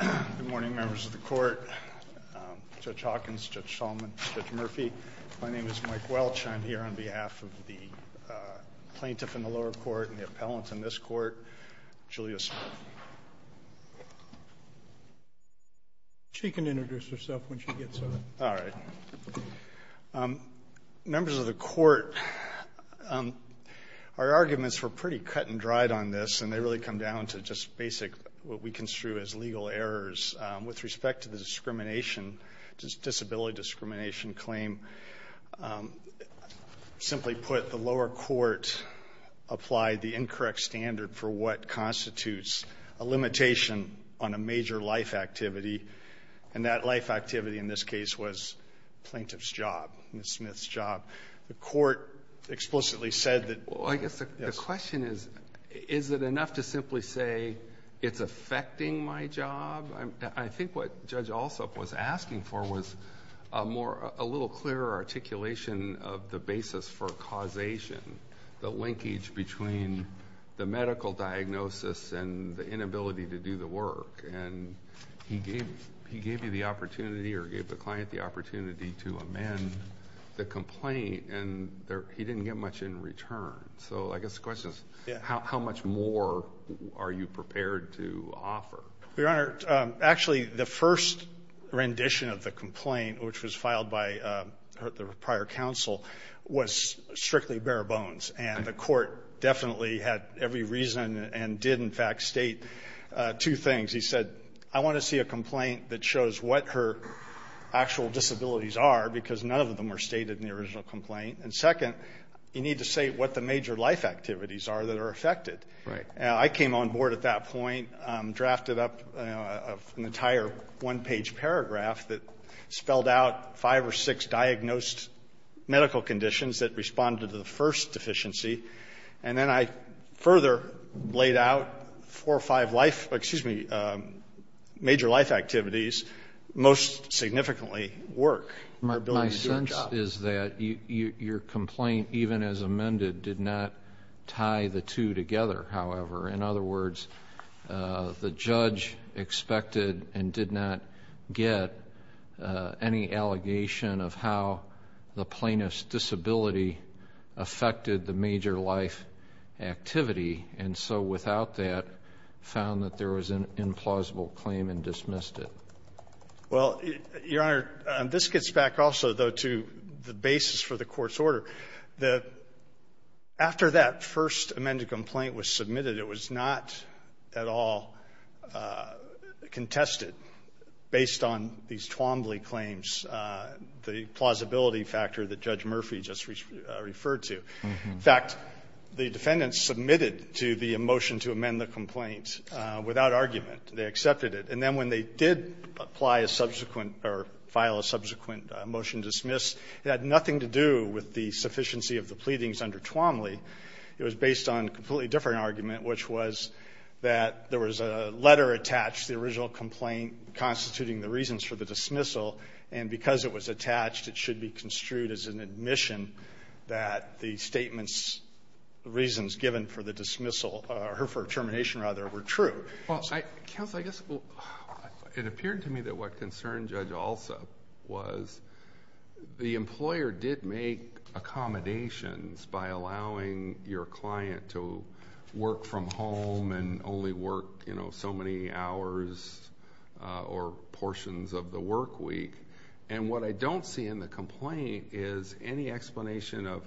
Good morning, Members of the Court. Judge Hawkins, Judge Solomon, Judge Murphy. My name is Mike Welch. I'm here on behalf of the plaintiff in the lower court and the appellant in this court, Julia Smith. She can introduce herself when she gets up. All right. Members of the Court, our arguments were pretty cut and dried on this, and they really come down to just basic what we construe as legal errors. With respect to the discrimination, disability discrimination claim, simply put, the lower court applied the incorrect standard for what constitutes a limitation on a major life activity, and that life activity in this case was the plaintiff's job, Ms. Smith's job. The court explicitly said that yes. The question is, is it enough to simply say it's affecting my job? I think what Judge Alsup was asking for was a little clearer articulation of the basis for causation, the linkage between the medical diagnosis and the inability to do the work. And he gave you the opportunity or gave the client the opportunity to amend the complaint, and he didn't get much in return. So I guess the question is, how much more are you prepared to offer? Your Honor, actually, the first rendition of the complaint, which was filed by the prior counsel, was strictly bare bones, and the court definitely had every reason and did, in fact, state two things. He said, I want to see a complaint that shows what her actual disabilities are because none of them were stated in the original complaint. And second, you need to say what the major life activities are that are affected. Right. I came on board at that point, drafted up an entire one-page paragraph that spelled out five or six diagnosed medical conditions that responded to the first deficiency, and then I further laid out four or five life or, excuse me, major life activities most significantly work. My sense is that your complaint, even as amended, did not tie the two together, however. In other words, the judge expected and did not get any allegation of how the plaintiff's disability affected the major life activity, and so without that found that there was an implausible claim and dismissed it. Well, Your Honor, this gets back also, though, to the basis for the court's order. After that first amended complaint was submitted, it was not at all contested based on these Twombly claims, the plausibility factor that Judge Murphy just referred to. In fact, the defendant submitted to the motion to amend the complaint without argument. They accepted it. And then when they did apply a subsequent or file a subsequent motion to dismiss, it had nothing to do with the sufficiency of the pleadings under Twombly. It was based on a completely different argument, which was that there was a letter attached to the original complaint constituting the reasons for the dismissal, and because it was attached, it should be construed as an admission that the statement's reasons given for the dismissal or for termination, rather, were true. Counsel, I guess it appeared to me that what concerned Judge Alsup was the employer did make accommodations by allowing your client to work from home and only work, you know, so many hours or portions of the work week. And what I don't see in the complaint is any explanation of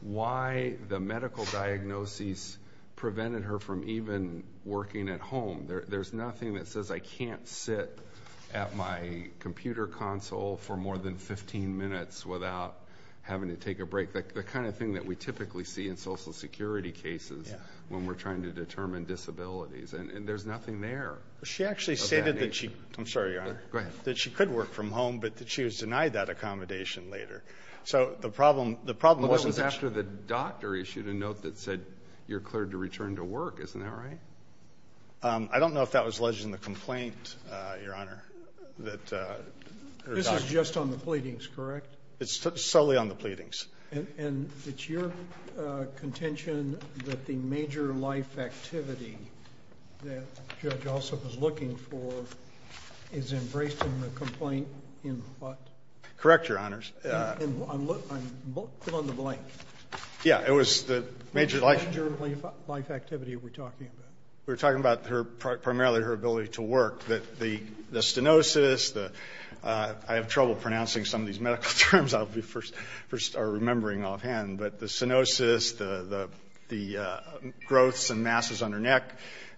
why the medical diagnosis prevented her from even working at home. There's nothing that says I can't sit at my computer console for more than 15 minutes without having to take a break, the kind of thing that we typically see in Social Security cases when we're trying to determine disabilities. And there's nothing there. She actually stated that she could work from home, but that she was denied that accommodation later. So the problem wasn't that she was denied that accommodation. The problem was after the doctor issued a note that said you're cleared to return to work. Isn't that right? I don't know if that was alleged in the complaint, Your Honor, that her doctor This is just on the pleadings, correct? It's solely on the pleadings. And it's your contention that the major life activity that Judge Alsup was looking for is embraced in the complaint in what? Correct, Your Honors. Fill in the blank. Yeah, it was the major life activity we're talking about. We're talking about primarily her ability to work. The stenosis, I have trouble pronouncing some of these medical terms I'll be remembering offhand, but the stenosis, the growths and masses on her neck,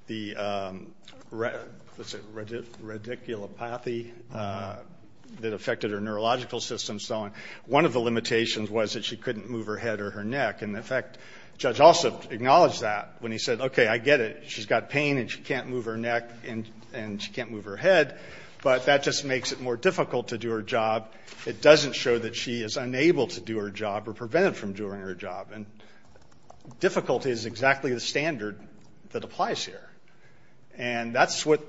the radiculopathy that affected her neurological system and so on. One of the limitations was that she couldn't move her head or her neck. And, in fact, Judge Alsup acknowledged that when he said, okay, I get it. She's got pain and she can't move her neck and she can't move her head, but that just makes it more difficult to do her job. It doesn't show that she is unable to do her job or prevented from doing her job. And difficulty is exactly the standard that applies here. And that's what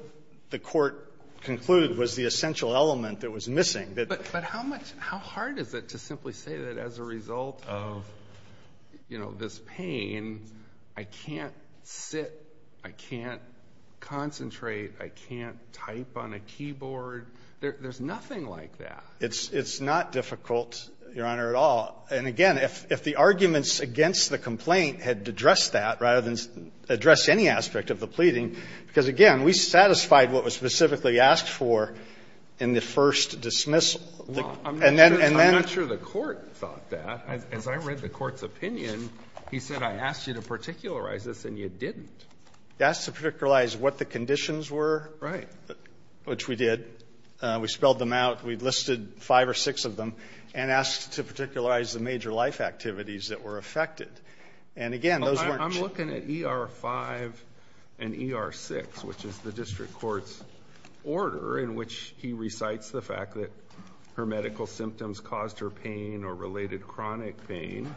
the Court concluded was the essential element that was missing. But how much — how hard is it to simply say that as a result of, you know, this pain, I can't sit, I can't concentrate, I can't type on a keyboard? There's nothing like that. It's not difficult, Your Honor, at all. And, again, if the arguments against the complaint had addressed that rather than addressed any aspect of the pleading, because, again, we satisfied what was specifically asked for in the first dismissal. Well, I'm not sure the Court thought that. As I read the Court's opinion, he said, I asked you to particularize this and you didn't. He asked to particularize what the conditions were. Right. Which we did. We spelled them out. We listed five or six of them and asked to particularize the major life activities that were affected. And, again, those weren't — I'm looking at ER 5 and ER 6, which is the District Court's order in which he recites the fact that her medical symptoms caused her pain or related chronic pain.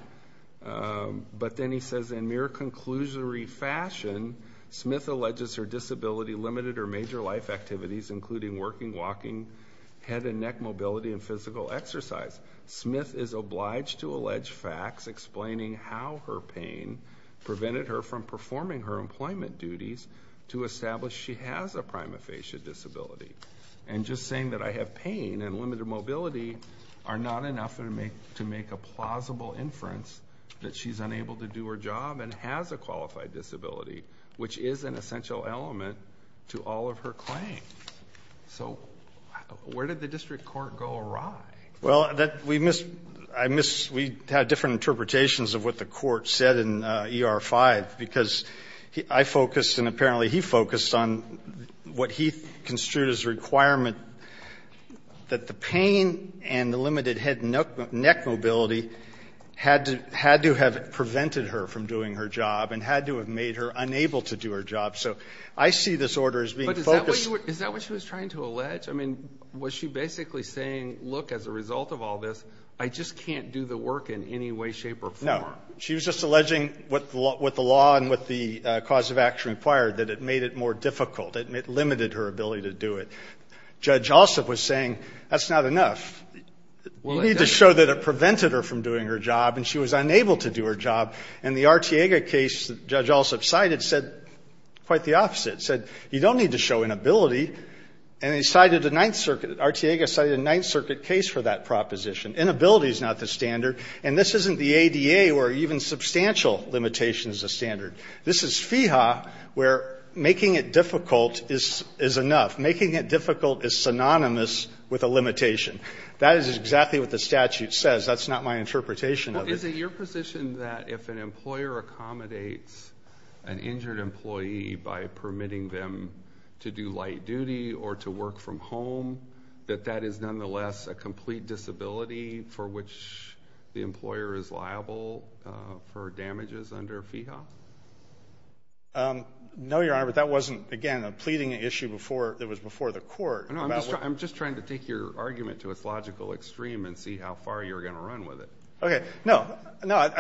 But then he says, in mere conclusory fashion, Smith alleges her disability limited her major life activities, including working, walking, head and neck mobility, and physical exercise. Smith is obliged to allege facts explaining how her pain prevented her from performing her employment duties to establish she has a prima facie disability. And just saying that I have pain and limited mobility are not enough to make a plausible inference that she's unable to do her job and has a qualified disability, which is an essential element to all of her claims. So where did the District Court go awry? Well, we missed — I missed — we had different interpretations of what the Court said in ER 5, because I focused and apparently he focused on what he construed as a requirement that the pain and the limited head and neck mobility had to have prevented her from doing her job and had to have made her unable to do her job. So I see this order as being focused — But is that what you were — is that what she was trying to allege? I mean, was she basically saying, look, as a result of all this, I just can't do the work in any way, shape or form? No. She was just alleging what the law and what the cause of action required, that it made it more difficult. It limited her ability to do it. Judge Alsup was saying that's not enough. You need to show that it prevented her from doing her job, and she was unable to do her job. And the Artiega case that Judge Alsup cited said quite the opposite. It said you don't need to show inability. And they cited a Ninth Circuit — Artiega cited a Ninth Circuit case for that proposition. Inability is not the standard. And this isn't the ADA where even substantial limitation is a standard. This is FEHA where making it difficult is enough. Making it difficult is synonymous with a limitation. That is exactly what the statute says. That's not my interpretation of it. Is it your position that if an employer accommodates an injured employee by permitting them to do light duty or to work from home, that that is nonetheless a complete disability for which the employer is liable for damages under FEHA? No, Your Honor, but that wasn't, again, a pleading issue that was before the court. I'm just trying to take your argument to its logical extreme and see how far you're going to run with it. Okay. No. No.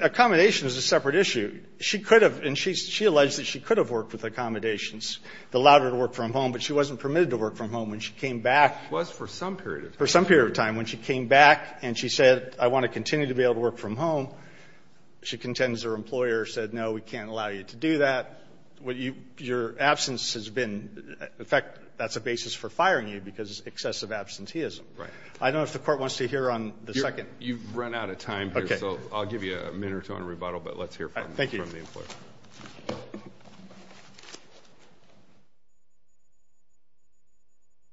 Accommodation is a separate issue. She could have, and she alleged that she could have worked with accommodations that allowed her to work from home, but she wasn't permitted to work from home when she came back. It was for some period of time. For some period of time. When she came back and she said, I want to continue to be able to work from home, she contends her employer said, no, we can't allow you to do that. Your absence has been — in fact, that's a basis for firing you because excessive absenteeism. I don't know if the Court wants to hear on the second. You've run out of time here. Okay. So I'll give you a minute or two on rebuttal, but let's hear from the employer. Thank you.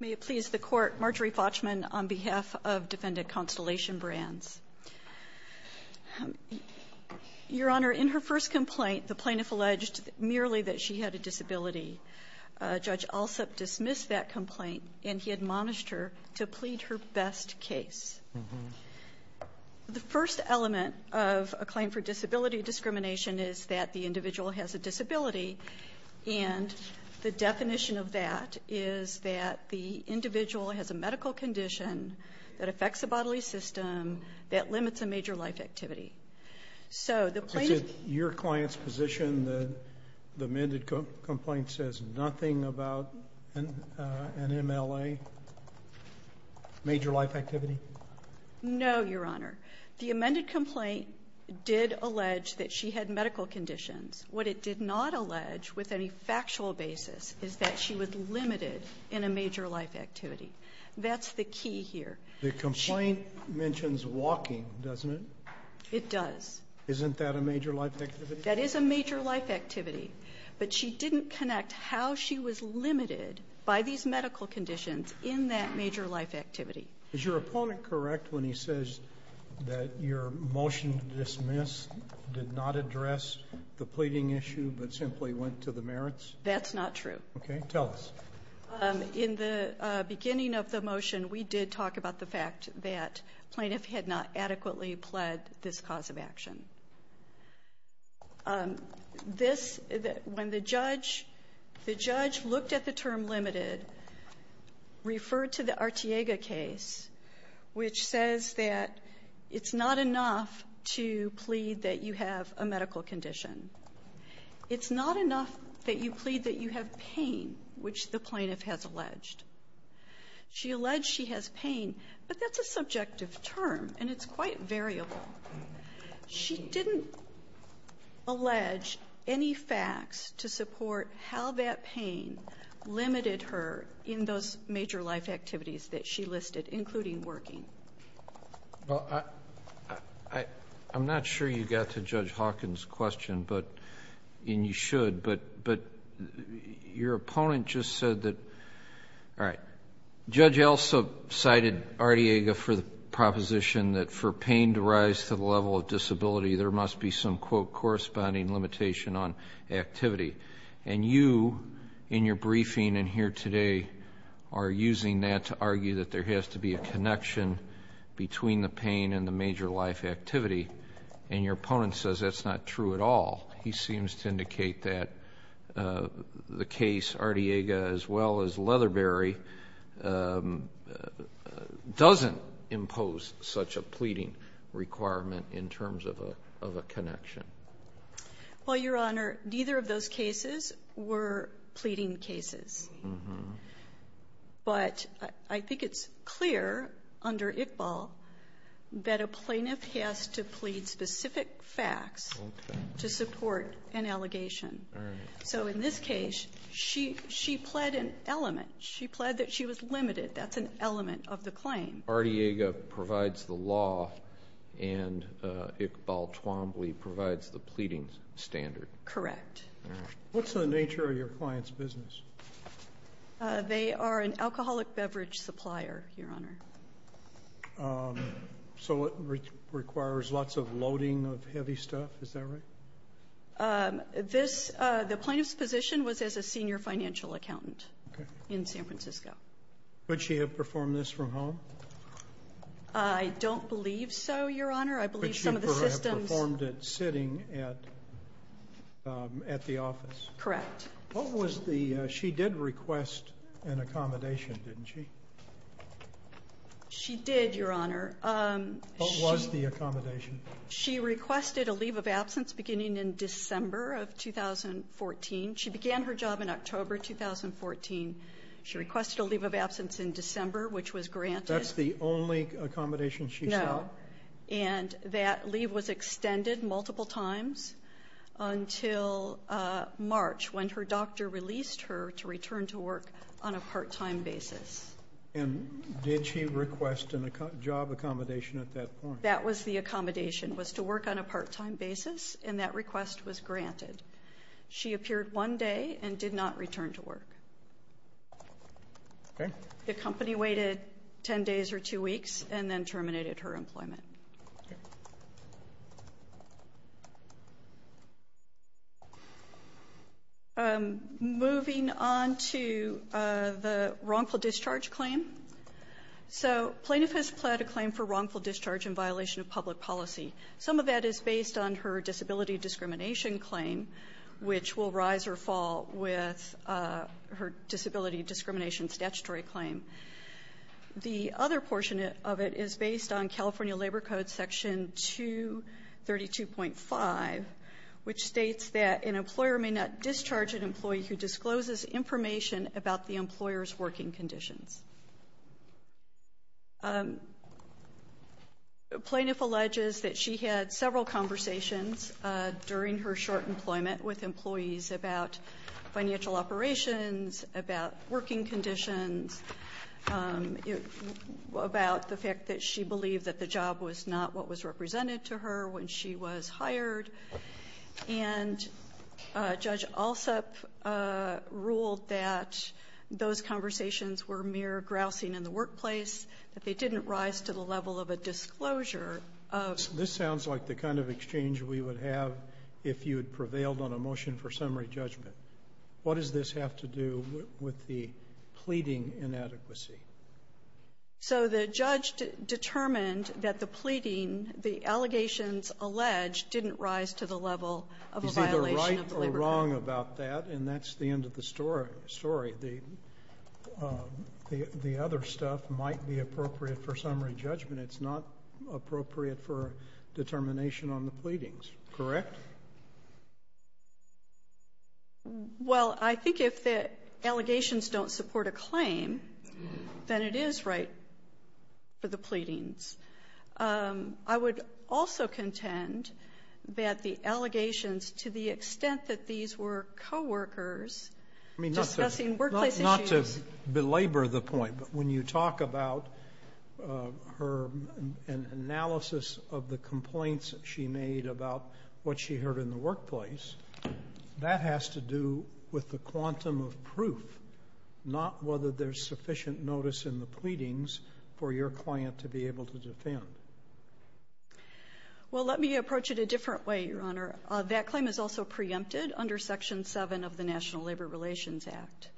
May it please the Court, Marjorie Fauchman on behalf of Defendant Constellation Brands. Your Honor, in her first complaint, the plaintiff alleged merely that she had a disability. Judge Alsup dismissed that complaint and he admonished her to plead her best case. The first element of a claim for disability discrimination is that the individual has a disability, and the definition of that is that the individual has a medical condition that affects the bodily system that limits a major life activity. So the plaintiff — Is it your client's position that the amended complaint says nothing about an MLA, major life activity? No, Your Honor. The amended complaint did allege that she had medical conditions. What it did not allege with any factual basis is that she was limited in a major life activity. That's the key here. The complaint mentions walking, doesn't it? It does. Isn't that a major life activity? That is a major life activity. But she didn't connect how she was limited by these medical conditions in that major life activity. Is your opponent correct when he says that your motion to dismiss did not address the pleading issue but simply went to the merits? That's not true. Okay. Tell us. In the beginning of the motion, we did talk about the fact that the plaintiff had not adequately pled this cause of action. This — when the judge — the judge looked at the term limited, referred to the Artiega case, which says that it's not enough to plead that you have a medical condition. It's not enough that you plead that you have pain, which the plaintiff has alleged. She alleged she has pain, but that's a subjective term, and it's quite variable. She didn't allege any facts to support how that pain limited her in those major life activities that she listed, including working. Well, I'm not sure you got to Judge Hawkins' question, and you should, but your opponent just said that — all right. Judge Elsa cited Artiega for the proposition that for pain to rise to the level of disability, there must be some, quote, corresponding limitation on activity. And you, in your briefing and here today, are using that to argue that there has to be a connection between the pain and the major life activity, and your opponent says that's not true at all. He seems to indicate that the case, Artiega as well as Leatherberry, doesn't impose such a pleading requirement in terms of a connection. Well, Your Honor, neither of those cases were pleading cases. But I think it's clear under Iqbal that a plaintiff has to plead specific facts to support an allegation. All right. So in this case, she pled an element. She pled that she was limited. That's an element of the claim. Artiega provides the law, and Iqbal Twombly provides the pleading standard. Correct. All right. What's the nature of your client's business? They are an alcoholic beverage supplier, Your Honor. So it requires lots of loading of heavy stuff. Is that right? The plaintiff's position was as a senior financial accountant in San Francisco. Could she have performed this from home? I don't believe so, Your Honor. I believe some of the systems – Could she perhaps have performed it sitting at the office? Correct. She did request an accommodation, didn't she? She did, Your Honor. What was the accommodation? She requested a leave of absence beginning in December of 2014. She began her job in October 2014. She requested a leave of absence in December, which was granted. That's the only accommodation she sought? No. And that leave was extended multiple times until March, when her doctor released her to return to work on a part-time basis. And did she request a job accommodation at that point? That was the accommodation, was to work on a part-time basis, and that request was granted. She appeared one day and did not return to work. Okay. The company waited 10 days or two weeks and then terminated her employment. Moving on to the wrongful discharge claim. So plaintiff has pled a claim for wrongful discharge in violation of public policy. Some of that is based on her disability discrimination claim, which will rise or fall with her disability discrimination statutory claim. The other portion of it is based on California Labor Code Section 232.5, which states that an employer may not discharge an employee who discloses information about the employer's working conditions. Plaintiff alleges that she had several conversations during her short employment with employees about financial operations, about working conditions, about the fact that she believed that the job was not what was represented to her when she was hired. And Judge Alsup ruled that those conversations were mere grousing in the workplace, that they didn't rise to the level of a disclosure. This sounds like the kind of exchange we would have if you had prevailed on a motion for summary judgment. What does this have to do with the pleading inadequacy? So the judge determined that the pleading, the allegations alleged, didn't rise to the level of a violation of the Labor Code. He's either right or wrong about that, and that's the end of the story. The other stuff might be appropriate for summary judgment. It's not appropriate for determination on the pleadings, correct? Well, I think if the allegations don't support a claim, then it is right for the pleadings. I would also contend that the allegations, to the extent that these were coworkers discussing workplace issues. Not to belabor the point, but when you talk about her analysis of the complaints she made about what she heard in the workplace, that has to do with the quantum of proof, not whether there's sufficient notice in the pleadings for your client to be able to defend. Well, let me approach it a different way, Your Honor. That claim is also preempted under Section 7 of the National Labor Relations Act.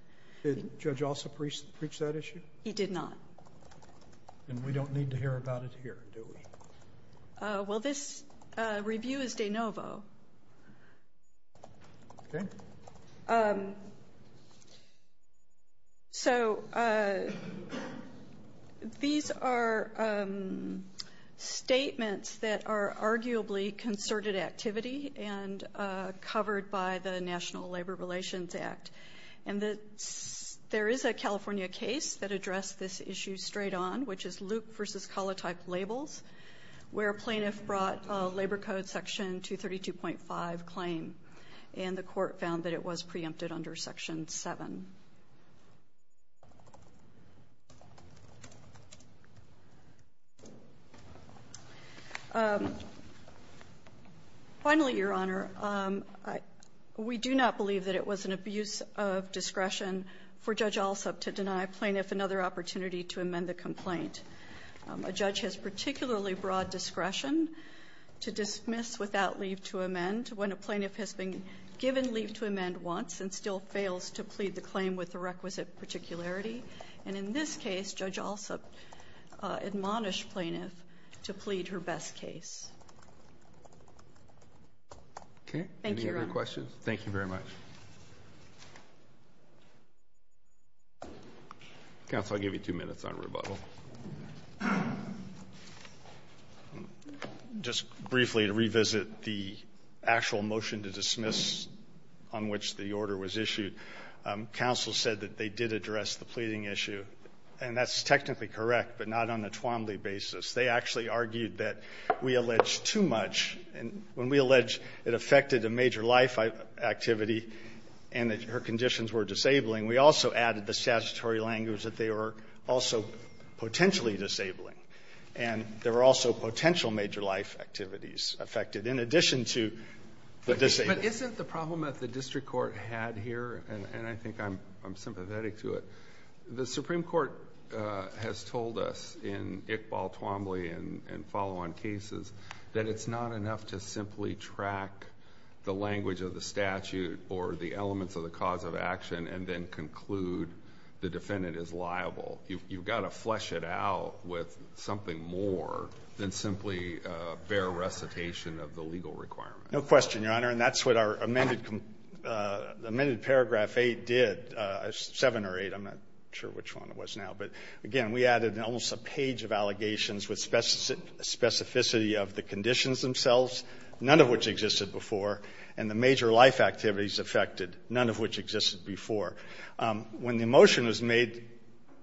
Did Judge Alsup reach that issue? He did not. And we don't need to hear about it here, do we? Well, this review is de novo. Okay. So these are statements that are arguably concerted activity and covered by the National Labor Relations Act. And there is a California case that addressed this issue straight on, which is Luke v. Colotype Labels, where a plaintiff brought a Labor Code Section 232.5 claim, and the Court found that it was preempted under Section 7. Finally, Your Honor, we do not believe that it was an abuse of discretion for Judge Alsup to deny a plaintiff another opportunity to amend the complaint. A judge has particularly broad discretion to dismiss without leave to amend when a plaintiff has been given leave to amend once and still fails to plead the claim with the requisite particularity. And in this case, Judge Alsup admonished plaintiff to plead her best case. Okay. Thank you, Your Honor. Any other questions? Thank you very much. Counsel, I'll give you two minutes on rebuttal. Just briefly to revisit the actual motion to dismiss on which the order was issued, counsel said that they did address the pleading issue. And that's technically correct, but not on a Twombly basis. They actually argued that we alleged too much. And when we alleged it affected a major life activity and that her conditions were disabling, we also added the statutory language that they were also potentially disabling. And there were also potential major life activities affected in addition to the disabling. But isn't the problem that the district court had here, and I think I'm sympathetic to it, the Supreme Court has told us in Iqbal Twombly and follow-on cases that it's not enough to simply track the language of the statute or the elements of the cause of action and then conclude the defendant is liable. You've got to flesh it out with something more than simply a bare recitation of the legal requirement. No question, Your Honor. And that's what our amended paragraph 8 did, 7 or 8, I'm not sure which one it was now. But, again, we added almost a page of allegations with specificity of the conditions themselves, none of which existed before, and the major life activities affected, none of which existed before. When the motion was made,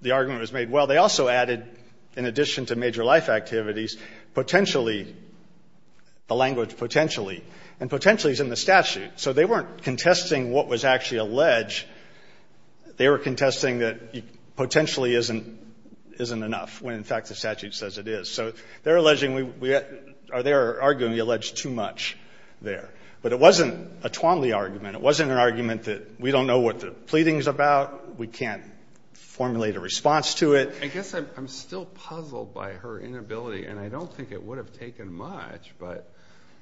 the argument was made, well, they also added, in addition to major life activities, potentially, the language potentially. And potentially is in the statute. So they weren't contesting what was actually alleged. They were contesting that it potentially isn't enough when, in fact, the statute says it is. So they're alleging, or they're arguing the alleged too much there. But it wasn't a Twombly argument. It wasn't an argument that we don't know what the pleading is about, we can't formulate a response to it. I guess I'm still puzzled by her inability, and I don't think it would have taken much, but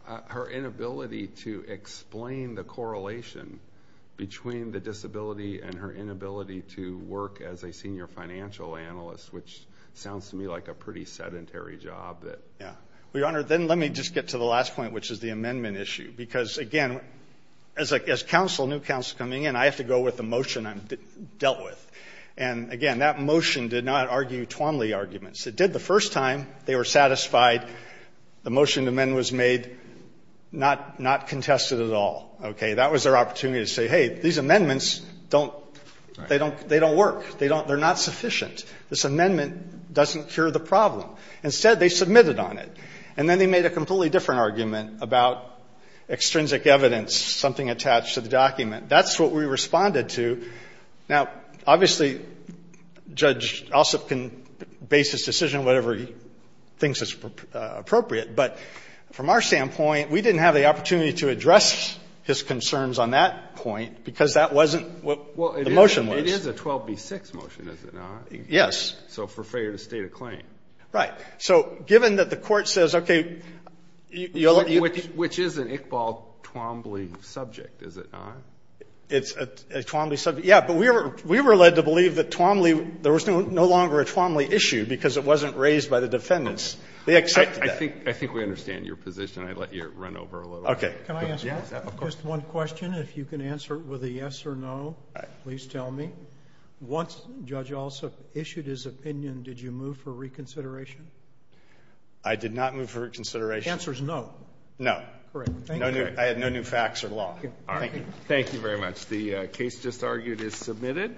her inability to explain the correlation between the disability and her inability to work as a senior financial analyst, which sounds to me like a pretty sedentary job. Yeah. Well, Your Honor, then let me just get to the last point, which is the amendment issue. Because, again, as counsel, new counsel coming in, I have to go with the motion I dealt with. And, again, that motion did not argue Twombly arguments. It did the first time. They were satisfied. The motion to amend was made, not contested at all. Okay? That was their opportunity to say, hey, these amendments don't, they don't work. They're not sufficient. This amendment doesn't cure the problem. Instead, they submitted on it. And then they made a completely different argument about extrinsic evidence, something attached to the document. That's what we responded to. Now, obviously, Judge Ossoff can base his decision whatever he thinks is appropriate. But from our standpoint, we didn't have the opportunity to address his concerns on that point because that wasn't what the motion was. Well, it is a 12b-6 motion, is it not? Yes. So for failure to state a claim. Right. So given that the Court says, okay, you'll let me ---- Which is an Iqbal Twombly subject, is it not? It's a Twombly subject. Yeah. But we were led to believe that Twombly, there was no longer a Twombly issue because it wasn't raised by the defendants. They accepted that. I think we understand your position. I'd let you run over a little. Okay. Can I ask you just one question? Yes, of course. If you can answer it with a yes or no, please tell me. Once Judge Ossoff issued his opinion, did you move for reconsideration? I did not move for reconsideration. The answer is no. No. Correct. Thank you. I have no new facts or law. Thank you. Thank you very much. The case just argued is submitted.